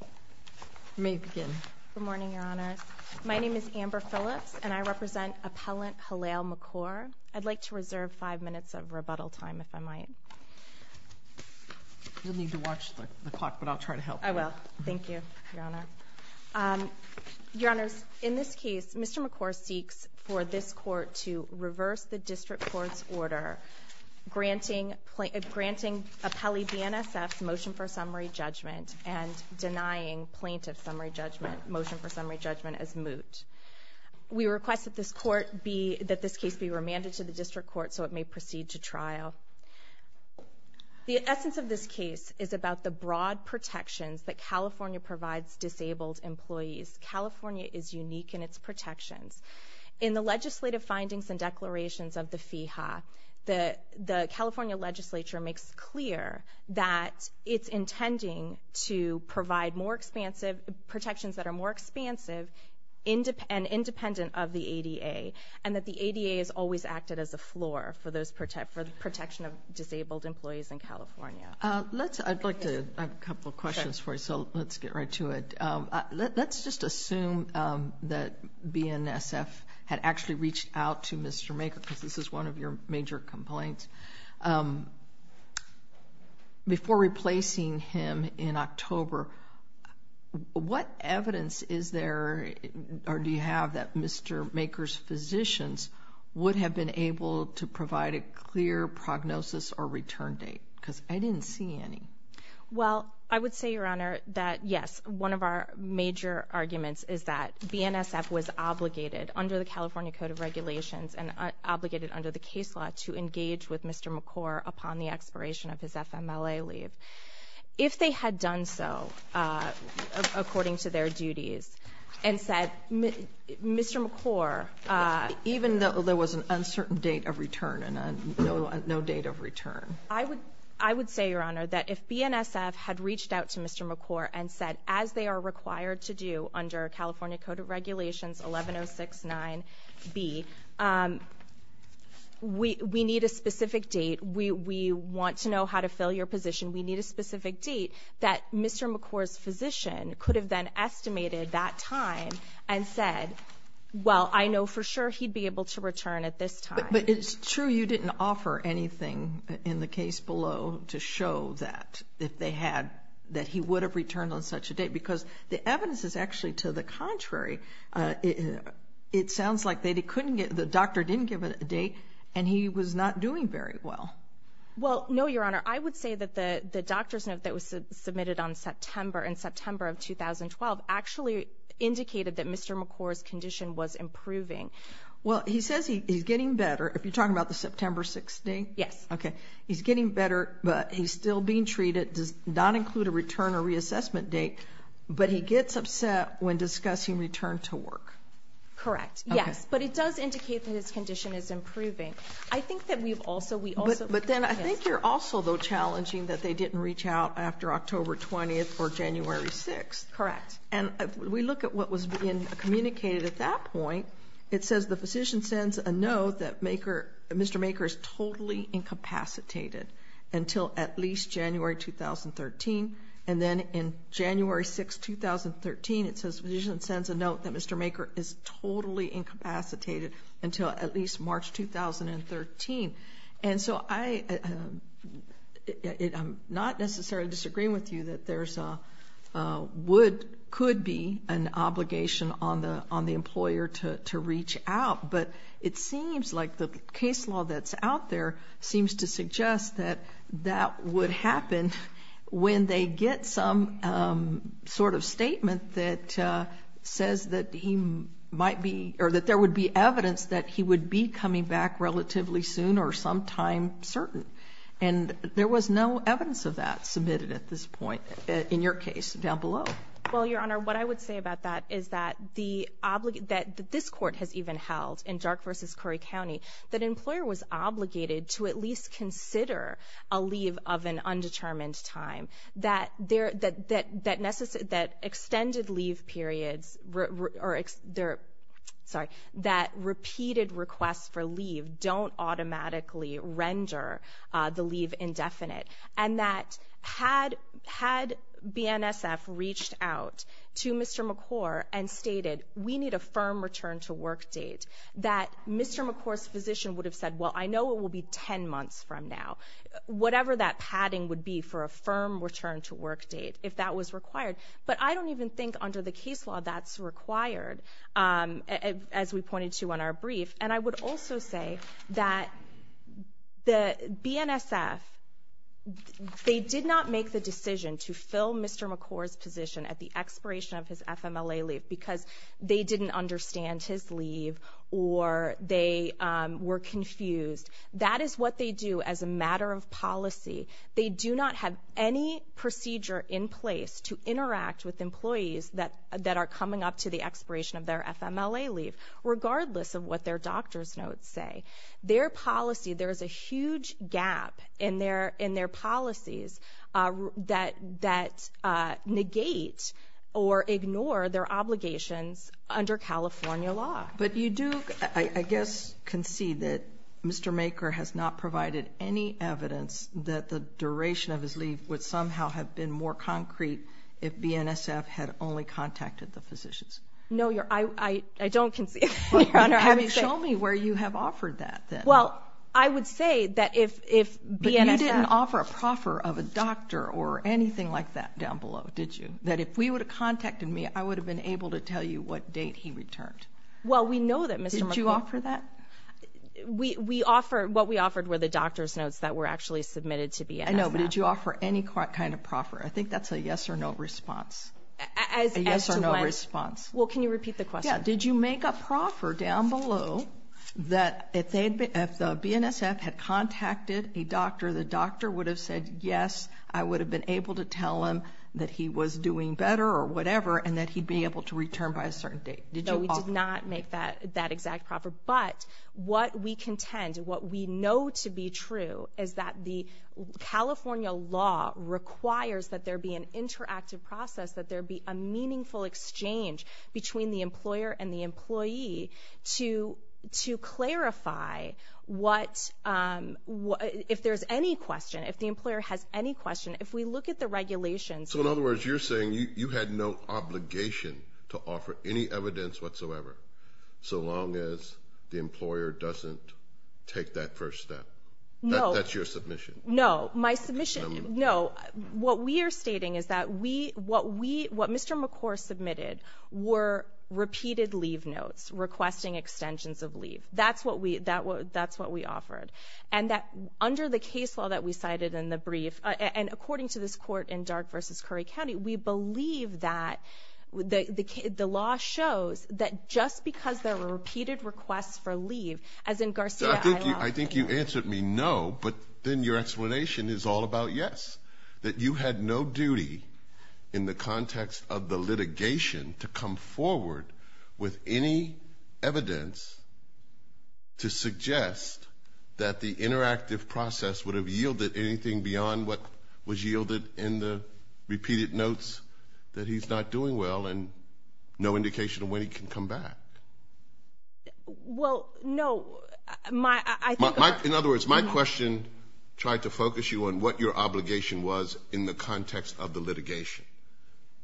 You may begin. Good morning, Your Honor. My name is Amber Phillips, and I represent appellant Hilyale Makor. I'd like to reserve five minutes of rebuttal time, if I might. You'll need to watch the clock, but I'll try to help you. I will. Thank you, Your Honor. Your Honors, in this case, Mr. Makor seeks for this court to reverse the district court's order granting appellee BNSF's motion for summary judgment and denying plaintiff's motion for summary judgment as moot. We request that this case be remanded to the district court so it may proceed to trial. The essence of this case is about the broad protections that California provides disabled employees. California is unique in its protections. In the legislative findings and declarations of the FEHA, the California legislature makes clear that it's intending to provide protections that are more expansive and independent of the ADA and that the ADA is always acted as a floor for the protection of disabled employees in California. I'd like to have a couple of questions for you, so let's get right to it. Let's just assume that BNSF had actually reached out to Mr. Makor, because this is one of your major complaints. Before replacing him in October, what evidence is there or do you have that Mr. Makor's physicians would have been able to provide a clear prognosis or return date? Because I didn't see any. Well, I would say, Your Honor, that, yes, one of our major arguments is that BNSF was obligated under the California Code of Regulations and obligated under the case law to engage with Mr. Makor upon the expiration of his FMLA leave. If they had done so according to their duties and said, Mr. Makor... Even though there was an uncertain date of return and no date of return. I would say, Your Honor, that if BNSF had reached out to Mr. Makor and said, as they are required to do under California Code of Regulations 11069B, we need a specific date, we want to know how to fill your position, we need a specific date, that Mr. Makor's physician could have then estimated that time and said, well, I know for sure he'd be able to return at this time. But it's true you didn't offer anything in the case below to show that if they had, that he would have returned on such a date. Because the evidence is actually to the contrary. It sounds like the doctor didn't give a date and he was not doing very well. Well, no, Your Honor. I would say that the doctor's note that was submitted in September of 2012 actually indicated that Mr. Makor's condition was improving. Well, he says he's getting better. If you're talking about the September 16th? Yes. Okay. He's getting better, but he's still being treated, does not include a return or reassessment date, but he gets upset when discussing return to work. Correct, yes. But it does indicate that his condition is improving. I think that we've also, we also, yes. But then I think you're also, though, challenging that they didn't reach out after October 20th or January 6th. Correct. And if we look at what was being communicated at that point, it says the physician sends a note that Mr. Makor is totally incapacitated until at least January 2013, and then in January 6th, 2013, it says the physician sends a note that Mr. Makor is totally incapacitated until at least March 2013. And so I'm not necessarily disagreeing with you that there could be an obligation on the employer to reach out, but it seems like the case law that's out there seems to suggest that that would happen when they get some sort of statement that says that he might be, or that there would be evidence that he would be coming back relatively soon or sometime certain. And there was no evidence of that submitted at this point in your case down below. Well, Your Honor, what I would say about that is that this court has even held in Dark v. Curry County that an employer was obligated to at least consider a leave of an undetermined time, that extended leave periods or, sorry, that repeated requests for leave don't automatically render the leave indefinite, and that had BNSF reached out to Mr. Makor and stated, we need a firm return to work date, that Mr. Makor's physician would have said, well, I know it will be 10 months from now. Whatever that padding would be for a firm return to work date if that was required. But I don't even think under the case law that's required, as we pointed to in our brief. And I would also say that the BNSF, they did not make the decision to fill Mr. Makor's position at the expiration of his FMLA leave because they didn't understand his leave or they were confused. That is what they do as a matter of policy. They do not have any procedure in place to interact with employees that are coming up to the expiration of their FMLA leave, regardless of what their doctor's notes say. Their policy, there is a huge gap in their policies that negate or ignore their obligations under California law. But you do, I guess, concede that Mr. Makor has not provided any evidence that the duration of his leave would somehow have been more concrete if BNSF had only contacted the physicians. No, I don't concede, Your Honor. I mean, show me where you have offered that then. Well, I would say that if BNSF – But you didn't offer a proffer of a doctor or anything like that down below, did you? That if we would have contacted me, I would have been able to tell you what date he returned. Well, we know that, Mr. Makor. Did you offer that? What we offered were the doctor's notes that were actually submitted to BNSF. I know, but did you offer any kind of proffer? I think that's a yes-or-no response. As to what? A yes-or-no response. Well, can you repeat the question? Yeah. Did you make a proffer down below that if the BNSF had contacted a doctor, the doctor would have said yes, I would have been able to tell him that he was doing better or whatever and that he'd be able to return by a certain date? No, we did not make that exact proffer. But what we contend, what we know to be true, is that the California law requires that there be an interactive process, that there be a meaningful exchange between the employer and the employee to clarify if there's any question, if the employer has any question. If we look at the regulations – No evidence whatsoever, so long as the employer doesn't take that first step. No. That's your submission. No, my submission, no. What we are stating is that what Mr. McCore submitted were repeated leave notes, requesting extensions of leave. That's what we offered. And under the case law that we cited in the brief, and according to this court in Dark v. Curry County, we believe that the law shows that just because there were repeated requests for leave, as in Garcia-Alao. I think you answered me no, but then your explanation is all about yes, that you had no duty in the context of the litigation to come forward with any evidence to suggest that the interactive process would have yielded anything beyond what was yielded in the repeated notes that he's not doing well and no indication of when he can come back. Well, no. In other words, my question tried to focus you on what your obligation was in the context of the litigation.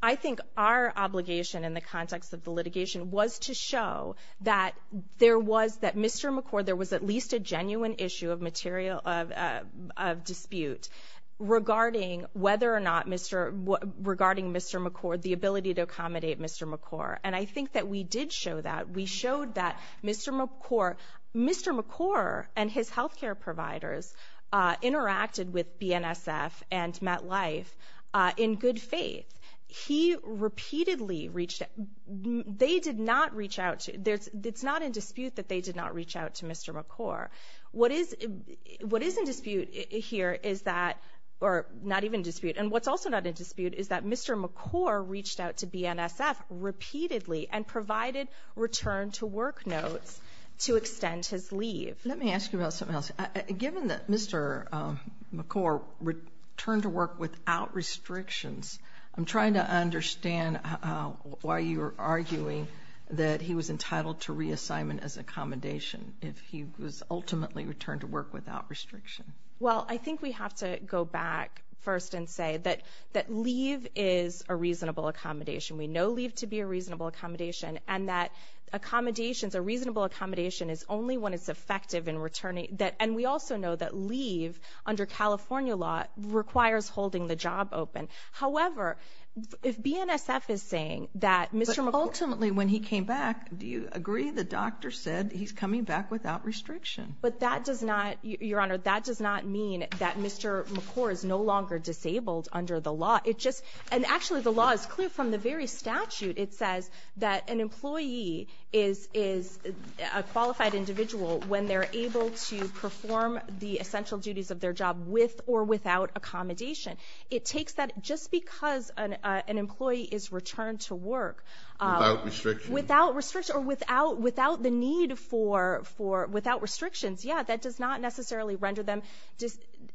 I think our obligation in the context of the litigation was to show that there was, that Mr. McCore, there was at least a genuine issue of dispute regarding Mr. McCore, the ability to accommodate Mr. McCore. And I think that we did show that. We showed that Mr. McCore and his health care providers interacted with BNSF and MetLife in good faith. He repeatedly reached out. They did not reach out. It's not in dispute that they did not reach out to Mr. McCore. What is in dispute here is that, or not even dispute, and what's also not in dispute is that Mr. McCore reached out to BNSF repeatedly and provided return-to-work notes to extend his leave. Let me ask you about something else. Given that Mr. McCore returned to work without restrictions, I'm trying to understand why you're arguing that he was entitled to reassignment as accommodation if he was ultimately returned to work without restriction. Well, I think we have to go back first and say that leave is a reasonable accommodation. We know leave to be a reasonable accommodation, and that accommodations, a reasonable accommodation is only when it's effective in returning. And we also know that leave under California law requires holding the job open. However, if BNSF is saying that Mr. McCore But ultimately when he came back, do you agree the doctor said he's coming back without restriction? But that does not, Your Honor, that does not mean that Mr. McCore is no longer disabled under the law. And actually the law is clear from the very statute. It says that an employee is a qualified individual when they're able to perform the essential duties of their job with or without accommodation. It takes that just because an employee is returned to work. Without restriction. Without restriction or without the need for, without restrictions. Yeah, that does not necessarily render them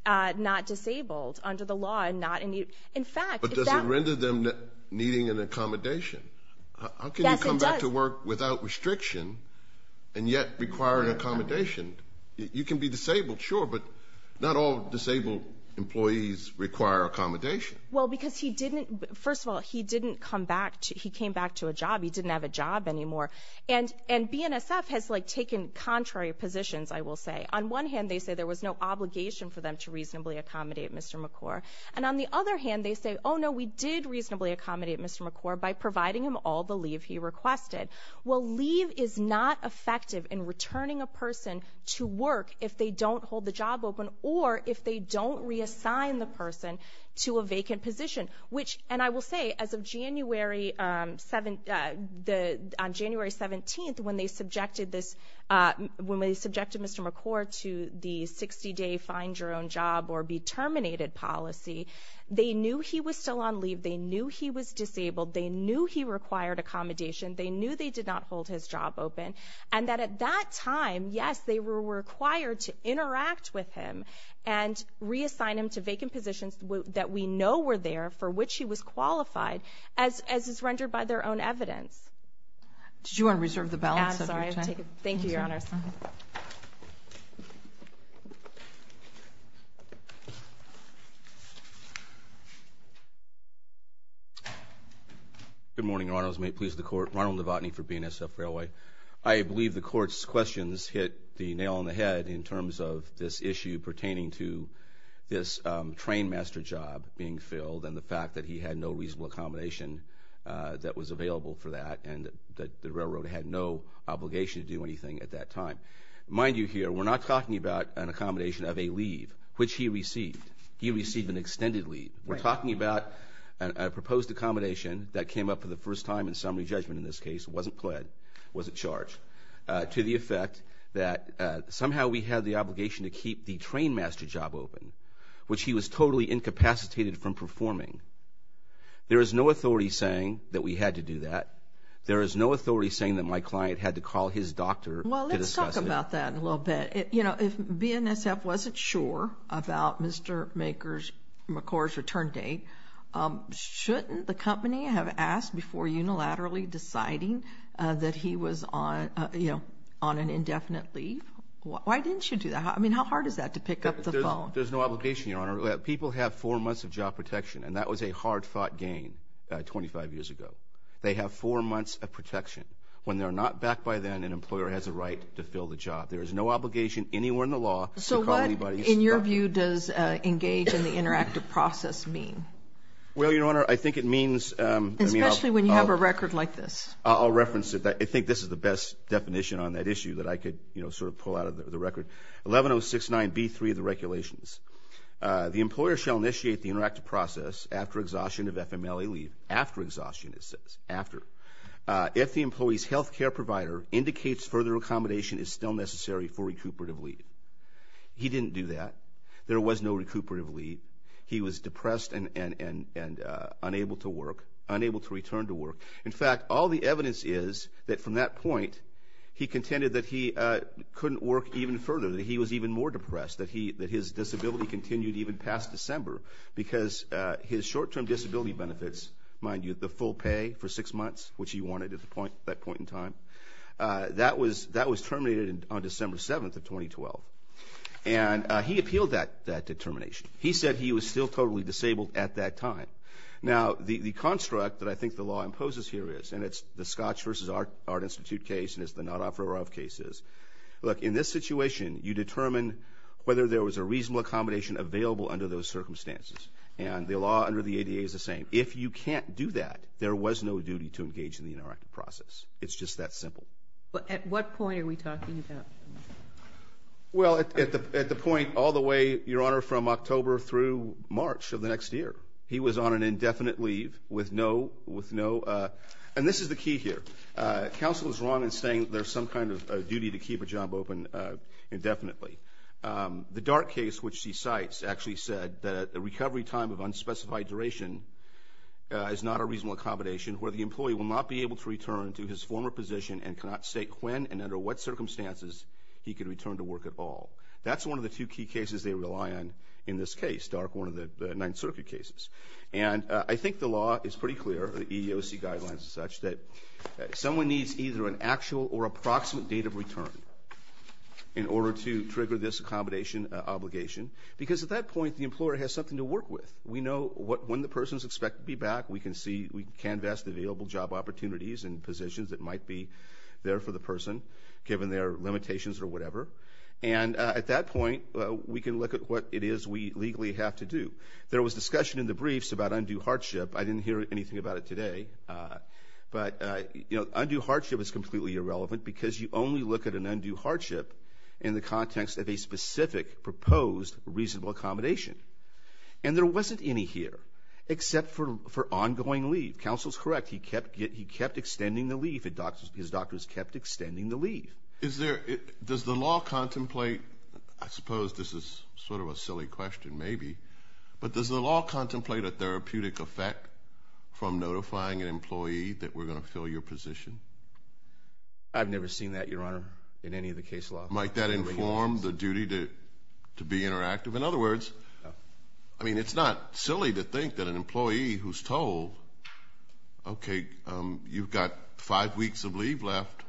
not disabled under the law. But does it render them needing an accommodation? Yes, it does. How can you come back to work without restriction and yet require an accommodation? You can be disabled, sure, but not all disabled employees require accommodation. Well, because he didn't, first of all, he didn't come back, he came back to a job. He didn't have a job anymore. And BNSF has like taken contrary positions, I will say. On one hand, they say there was no obligation for them to reasonably accommodate Mr. McCore. And on the other hand, they say, oh, no, we did reasonably accommodate Mr. McCore by providing him all the leave he requested. Well, leave is not effective in returning a person to work if they don't hold the job open or if they don't reassign the person to a vacant position. Which, and I will say, as of January 17th when they subjected this, when they subjected Mr. McCore to the 60-day find-your-own-job-or-be-terminated policy, they knew he was still on leave, they knew he was disabled, they knew he required accommodation, they knew they did not hold his job open. And that at that time, yes, they were required to interact with him and reassign him to vacant positions that we know were there for which he was qualified, as is rendered by their own evidence. Did you want to reserve the balance of your time? I'm sorry. Thank you, Your Honors. Good morning, Your Honors. May it please the Court. Ronald Levotny for BNSF Railway. I believe the Court's questions hit the nail on the head in terms of this issue pertaining to this trainmaster job being filled and the fact that he had no reasonable accommodation that was available for that and that the railroad had no obligation to do anything at that time. Mind you here, we're not talking about an accommodation of a leave, which he received. He received an extended leave. We're talking about a proposed accommodation that came up for the first time in summary judgment in this case, wasn't pled, wasn't charged, to the effect that somehow we had the obligation to keep the trainmaster job open, which he was totally incapacitated from performing. There is no authority saying that we had to do that. There is no authority saying that my client had to call his doctor to discuss it. Well, let's talk about that in a little bit. You know, if BNSF wasn't sure about Mr. McCord's return date, shouldn't the company have asked before unilaterally deciding that he was on an indefinite leave? Why didn't you do that? I mean, how hard is that to pick up the phone? There's no obligation, Your Honor. People have four months of job protection, and that was a hard-fought gain 25 years ago. They have four months of protection. When they're not back by then, an employer has a right to fill the job. There is no obligation anywhere in the law to call anybody's doctor. So what, in your view, does engage in the interactive process mean? Well, Your Honor, I think it means – Especially when you have a record like this. I'll reference it. I think this is the best definition on that issue that I could sort of pull out of the record. 11069B3 of the regulations. The employer shall initiate the interactive process after exhaustion of FMLA leave. After exhaustion, it says. After. If the employee's health care provider indicates further accommodation is still necessary for recuperative leave. He didn't do that. There was no recuperative leave. He was depressed and unable to work, unable to return to work. In fact, all the evidence is that from that point, he contended that he couldn't work even further, that he was even more depressed, that his disability continued even past December because his short-term disability benefits, mind you, the full pay for six months, which he wanted at that point in time, that was terminated on December 7th of 2012. And he appealed that determination. He said he was still totally disabled at that time. Now, the construct that I think the law imposes here is, and it's the Scotch v. Art Institute case and it's the not offeror of cases. Look, in this situation, you determine whether there was a reasonable accommodation available under those circumstances. And the law under the ADA is the same. If you can't do that, there was no duty to engage in the interactive process. It's just that simple. But at what point are we talking about? Well, at the point all the way, Your Honor, from October through March of the next year. He was on an indefinite leave with no, and this is the key here. Counsel is wrong in saying there's some kind of duty to keep a job open indefinitely. The Dark case, which she cites, actually said that a recovery time of unspecified duration is not a reasonable accommodation where the employee will not be able to return to his former position and cannot state when and under what circumstances he can return to work at all. That's one of the two key cases they rely on in this case, Dark, one of the Ninth Circuit cases. And I think the law is pretty clear, the EEOC guidelines as such, that someone needs either an actual or approximate date of return in order to trigger this accommodation obligation because at that point the employer has something to work with. We know when the person is expected to be back. We can see, we can vest available job opportunities and positions that might be there for the person given their limitations or whatever. And at that point we can look at what it is we legally have to do. There was discussion in the briefs about undue hardship. I didn't hear anything about it today. But, you know, undue hardship is completely irrelevant because you only look at an undue hardship in the context of a specific proposed reasonable accommodation. And there wasn't any here except for ongoing leave. Counsel is correct. He kept extending the leave. His doctors kept extending the leave. Is there, does the law contemplate, I suppose this is sort of a silly question maybe, but does the law contemplate a therapeutic effect from notifying an employee that we're going to fill your position? I've never seen that, Your Honor, in any of the case law. Might that inform the duty to be interactive? In other words, I mean it's not silly to think that an employee who's told, okay, you've got five weeks of leave left,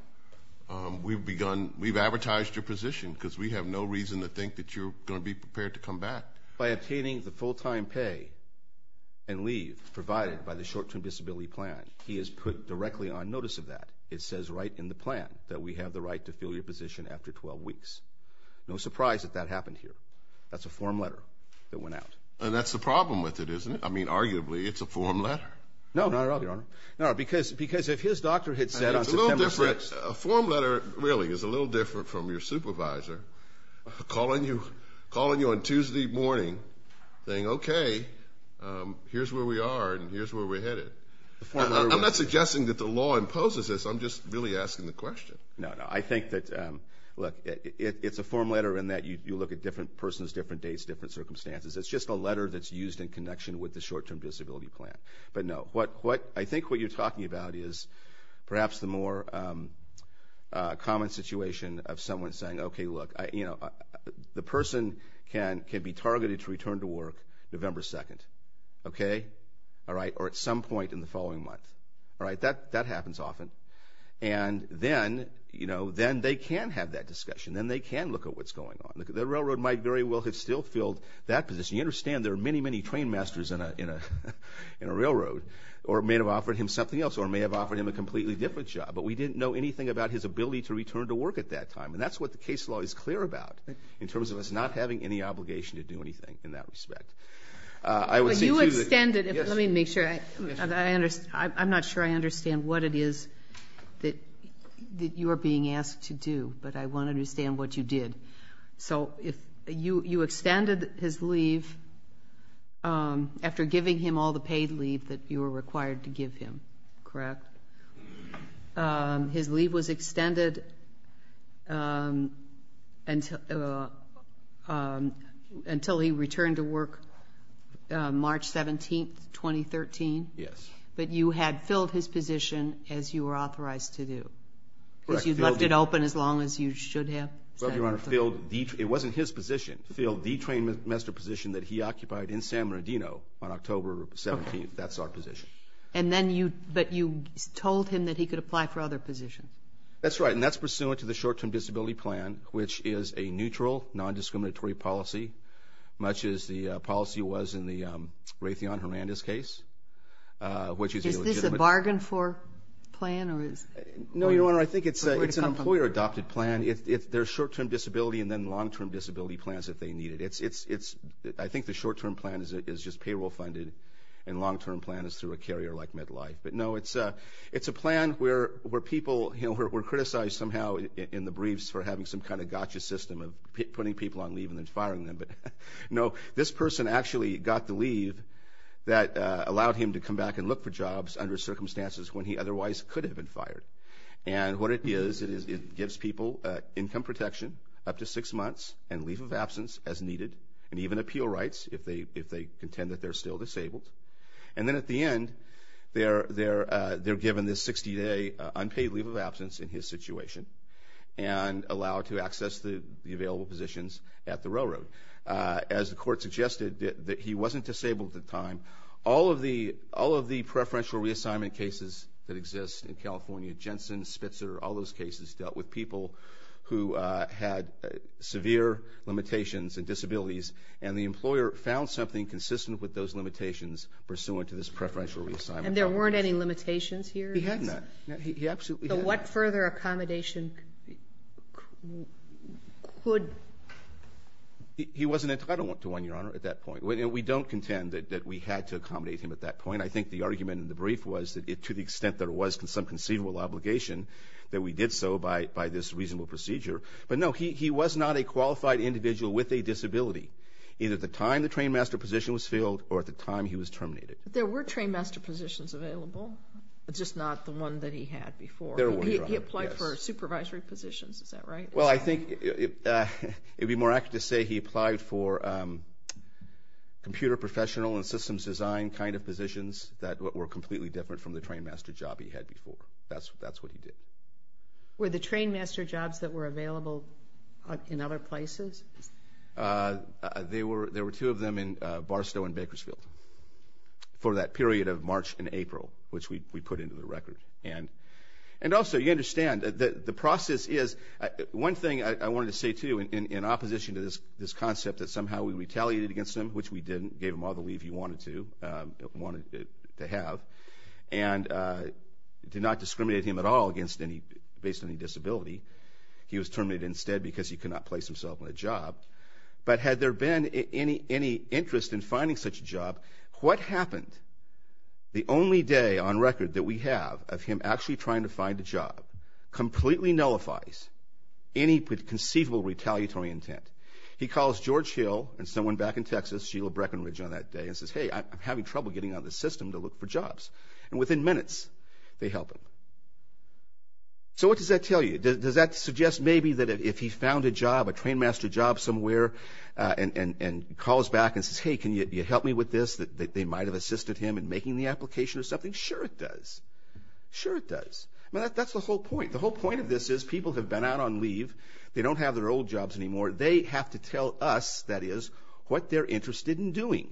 we've begun, we've advertised your position because we have no reason to think that you're going to be prepared to come back. By obtaining the full-time pay and leave provided by the short-term disability plan, he is put directly on notice of that. It says right in the plan that we have the right to fill your position after 12 weeks. No surprise that that happened here. That's a form letter that went out. And that's the problem with it, isn't it? I mean arguably it's a form letter. No, not at all, Your Honor. No, because if his doctor had said on September 6th. A form letter really is a little different from your supervisor calling you on Tuesday morning saying, okay, here's where we are and here's where we're headed. I'm not suggesting that the law imposes this. I'm just really asking the question. No, no. I think that, look, it's a form letter in that you look at different persons, different dates, different circumstances. It's just a letter that's used in connection with the short-term disability plan. But, no, I think what you're talking about is perhaps the more common situation of someone saying, okay, look, the person can be targeted to return to work November 2nd. Okay? All right? Or at some point in the following month. All right? That happens often. And then they can have that discussion. Then they can look at what's going on. The railroad might very well have still filled that position. You understand there are many, many train masters in a railroad. Or it may have offered him something else. Or it may have offered him a completely different job. But we didn't know anything about his ability to return to work at that time. And that's what the case law is clear about in terms of us not having any obligation to do anything in that respect. But you extended it. Let me make sure. I'm not sure I understand what it is that you are being asked to do. But I want to understand what you did. So you extended his leave after giving him all the paid leave that you were required to give him, correct? His leave was extended until he returned to work March 17th, 2013? Yes. But you had filled his position as you were authorized to do? Correct. So you left it open as long as you should have? Well, Your Honor, it wasn't his position. Filled the train master position that he occupied in San Bernardino on October 17th. That's our position. But you told him that he could apply for other positions. That's right. And that's pursuant to the short-term disability plan, which is a neutral, non-discriminatory policy, much as the policy was in the Raytheon-Hermandez case, which is a legitimate. Is this a bargain for plan? No, Your Honor, I think it's an employer-adopted plan. There's short-term disability and then long-term disability plans if they need it. I think the short-term plan is just payroll funded, and long-term plan is through a carrier like Medlife. But, no, it's a plan where people were criticized somehow in the briefs for having some kind of gotcha system of putting people on leave and then firing them. But, no, this person actually got the leave that allowed him to come back and look for jobs under circumstances when he otherwise could have been fired. And what it is, it gives people income protection up to six months and leave of absence as needed, and even appeal rights if they contend that they're still disabled. And then at the end, they're given this 60-day unpaid leave of absence in his situation and allowed to access the available positions at the railroad. As the court suggested, he wasn't disabled at the time. All of the preferential reassignment cases that exist in California, Jensen, Spitzer, all those cases dealt with people who had severe limitations and disabilities, and the employer found something consistent with those limitations pursuant to this preferential reassignment. And there weren't any limitations here? He had none. He absolutely had none. So what further accommodation could? He wasn't entitled to one, Your Honor, at that point. We don't contend that we had to accommodate him at that point. I think the argument in the brief was that to the extent there was some conceivable obligation that we did so by this reasonable procedure. But no, he was not a qualified individual with a disability, either at the time the trainmaster position was filled or at the time he was terminated. But there were trainmaster positions available, just not the one that he had before. There were, Your Honor. He applied for supervisory positions. Is that right? Well, I think it would be more accurate to say he applied for computer professional and systems design kind of positions that were completely different from the trainmaster job he had before. That's what he did. Were the trainmaster jobs that were available in other places? There were two of them in Barstow and Bakersfield for that period of March and April, which we put into the record. And also, you understand, the process is one thing I wanted to say, too, in opposition to this concept that somehow we retaliated against him, which we didn't, gave him all the leave he wanted to have, and did not discriminate him at all based on his disability. He was terminated instead because he could not place himself on a job. But had there been any interest in finding such a job, what happened? The only day on record that we have of him actually trying to find a job completely nullifies any conceivable retaliatory intent. He calls George Hill and someone back in Texas, Sheila Breckenridge on that day, and says, Hey, I'm having trouble getting on the system to look for jobs. And within minutes, they help him. So what does that tell you? Does that suggest maybe that if he found a job, a trainmaster job somewhere, and calls back and says, Hey, can you help me with this, that they might have assisted him in making the application or something? Sure it does. Sure it does. I mean, that's the whole point. The whole point of this is people have been out on leave. They don't have their old jobs anymore. They have to tell us, that is, what they're interested in doing.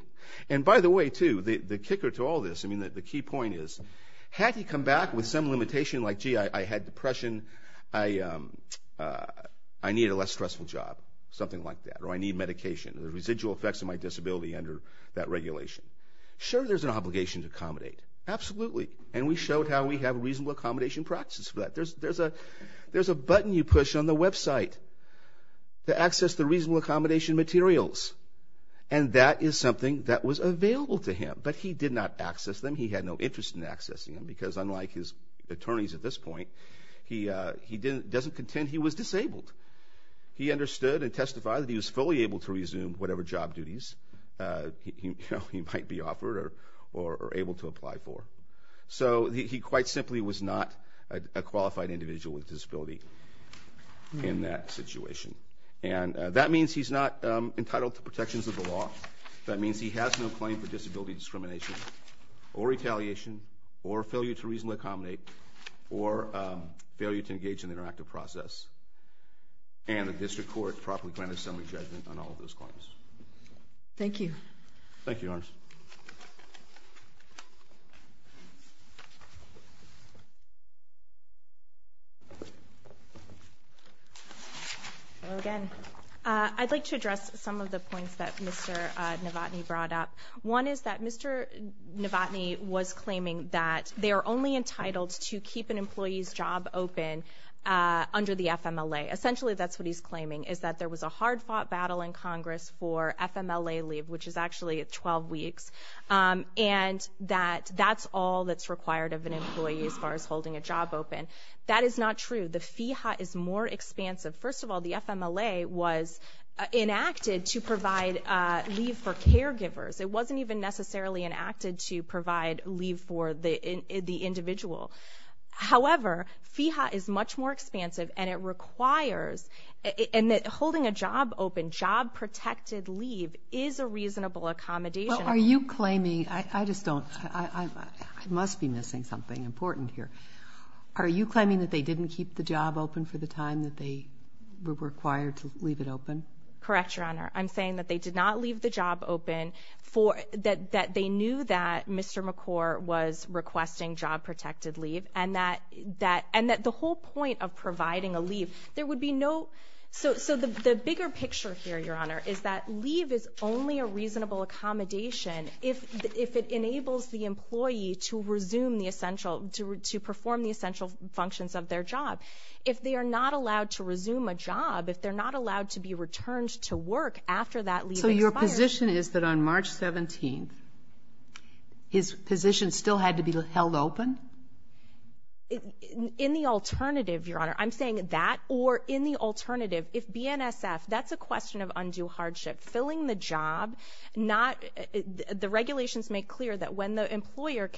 And by the way, too, the kicker to all this, I mean, the key point is, had he come back with some limitation like, Gee, I had depression, I need a less stressful job, something like that. Or I need medication. There's residual effects of my disability under that regulation. Sure there's an obligation to accommodate. Absolutely. And we showed how we have reasonable accommodation practices for that. There's a button you push on the website to access the reasonable accommodation materials. And that is something that was available to him. But he did not access them. He had no interest in accessing them, because unlike his attorneys at this point, he doesn't contend he was disabled. He understood and testified that he was fully able to resume whatever job duties he might be offered or able to apply for. So he quite simply was not a qualified individual with a disability in that situation. And that means he's not entitled to protections of the law. That means he has no claim for disability discrimination or retaliation or failure to reasonably accommodate or failure to engage in the interactive process. And the district court properly granted assembly judgment on all of those claims. Thank you. Thank you, Your Honor. Hello again. I'd like to address some of the points that Mr. Novotny brought up. One is that Mr. Novotny was claiming that they are only entitled to keep an employee's job open under the FMLA. Essentially, that's what he's claiming, is that there was a hard-fought battle in Congress for FMLA leave, which is actually 12 weeks, and that that's all that's required of an employee as far as holding a job open. That is not true. The FEHA is more expansive. First of all, the FMLA was enacted to provide leave for caregivers. It wasn't even necessarily enacted to provide leave for the individual. However, FEHA is much more expansive, and it requires – and holding a job open, job-protected leave is a reasonable accommodation. Well, are you claiming – I just don't – I must be missing something important here. Are you claiming that they didn't keep the job open for the time that they were required to leave it open? Correct, Your Honor. I'm saying that they did not leave the job open for – that they knew that Mr. McCorr was requesting job-protected leave and that the whole point of providing a leave – there would be no – so the bigger picture here, Your Honor, is that leave is only a reasonable accommodation if it enables the employee to resume the essential – to perform the essential functions of their job. If they are not allowed to resume a job, if they're not allowed to be returned to work after that leave expires – So your position is that on March 17th, his position still had to be held open? In the alternative, Your Honor. I'm saying that or in the alternative. If BNSF – that's a question of undue hardship. Filling the job, not – the regulations make clear that when the employer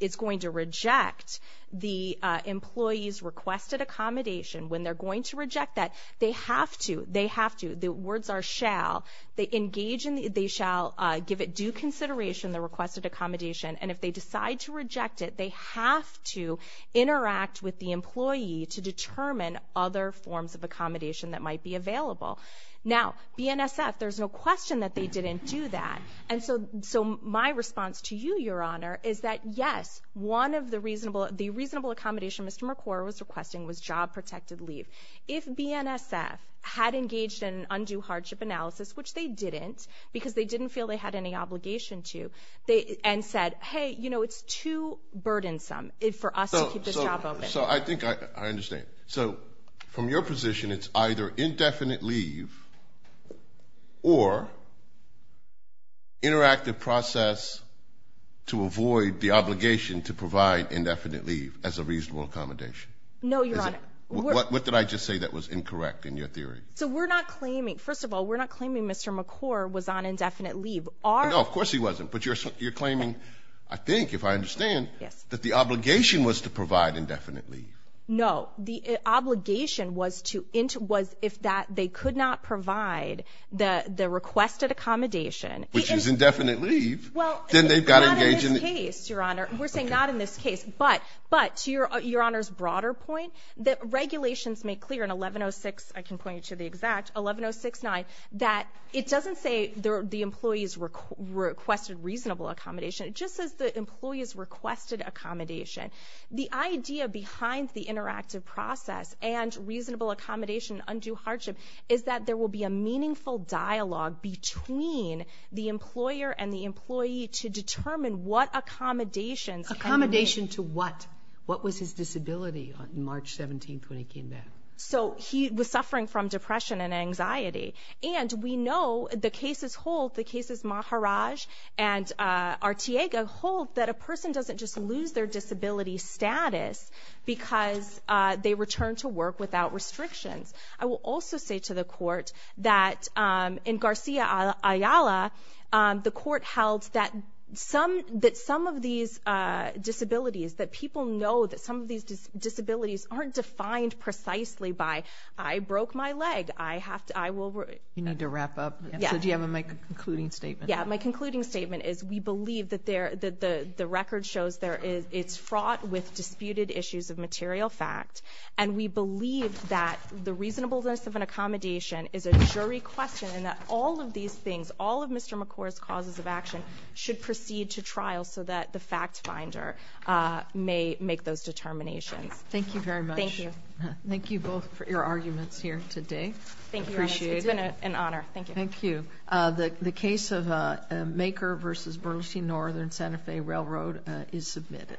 is going to reject the employee's requested accommodation, when they're going to reject that, they have to – they have to – the words are shall – they engage in – they shall give it due consideration, the requested accommodation, and if they decide to reject it, they have to interact with the employee to determine other forms of accommodation that might be available. Now, BNSF, there's no question that they didn't do that. And so my response to you, Your Honor, is that, yes, one of the reasonable – the reasonable accommodation Mr. McQuarrie was requesting was job-protected leave. If BNSF had engaged in undue hardship analysis, which they didn't because they didn't feel they had any obligation to, and said, hey, you know, it's too burdensome for us to keep this job open. So I think I understand. So from your position, it's either indefinite leave or interactive process to avoid the obligation to provide indefinite leave as a reasonable accommodation. No, Your Honor. What did I just say that was incorrect in your theory? So we're not claiming – first of all, we're not claiming Mr. McQuarrie was on indefinite leave. No, of course he wasn't. But you're claiming, I think, if I understand, that the obligation was to provide indefinite leave. No. The obligation was to – was if that – they could not provide the requested accommodation. Which is indefinite leave. Well – Then they've got to engage in – Not in this case, Your Honor. We're saying not in this case. But to Your Honor's broader point, the regulations make clear in 1106 – I can point you to the exact – 11069 that it doesn't say the employees requested reasonable accommodation. It just says the employees requested accommodation. The idea behind the interactive process and reasonable accommodation, undue hardship, is that there will be a meaningful dialogue between the employer and the employee to determine what accommodations – Accommodation to what? What was his disability on March 17th when he came back? So he was suffering from depression and anxiety. And we know the cases hold, the cases Maharaj and Arteaga hold, that a person doesn't just lose their disability status because they return to work without restrictions. I will also say to the court that in Garcia Ayala, the court held that some – that some of these disabilities, that people know that some of these disabilities aren't defined precisely by, I broke my leg. I have to – I will – You need to wrap up. Yes. So do you have a concluding statement? Yeah. My concluding statement is we believe that there – that the record shows there is – it's fraught with disputed issues of material fact. And we believe that the reasonableness of an accommodation is a jury question and that all of these things, all of Mr. McCord's causes of action, should proceed to trial so that the fact finder may make those determinations. Thank you very much. Thank you. Thank you both for your arguments here today. Thank you, Your Honor. Appreciate it. It's been an honor. Thank you. Thank you. The case of Maker v. Burleson Northern Santa Fe Railroad is submitted.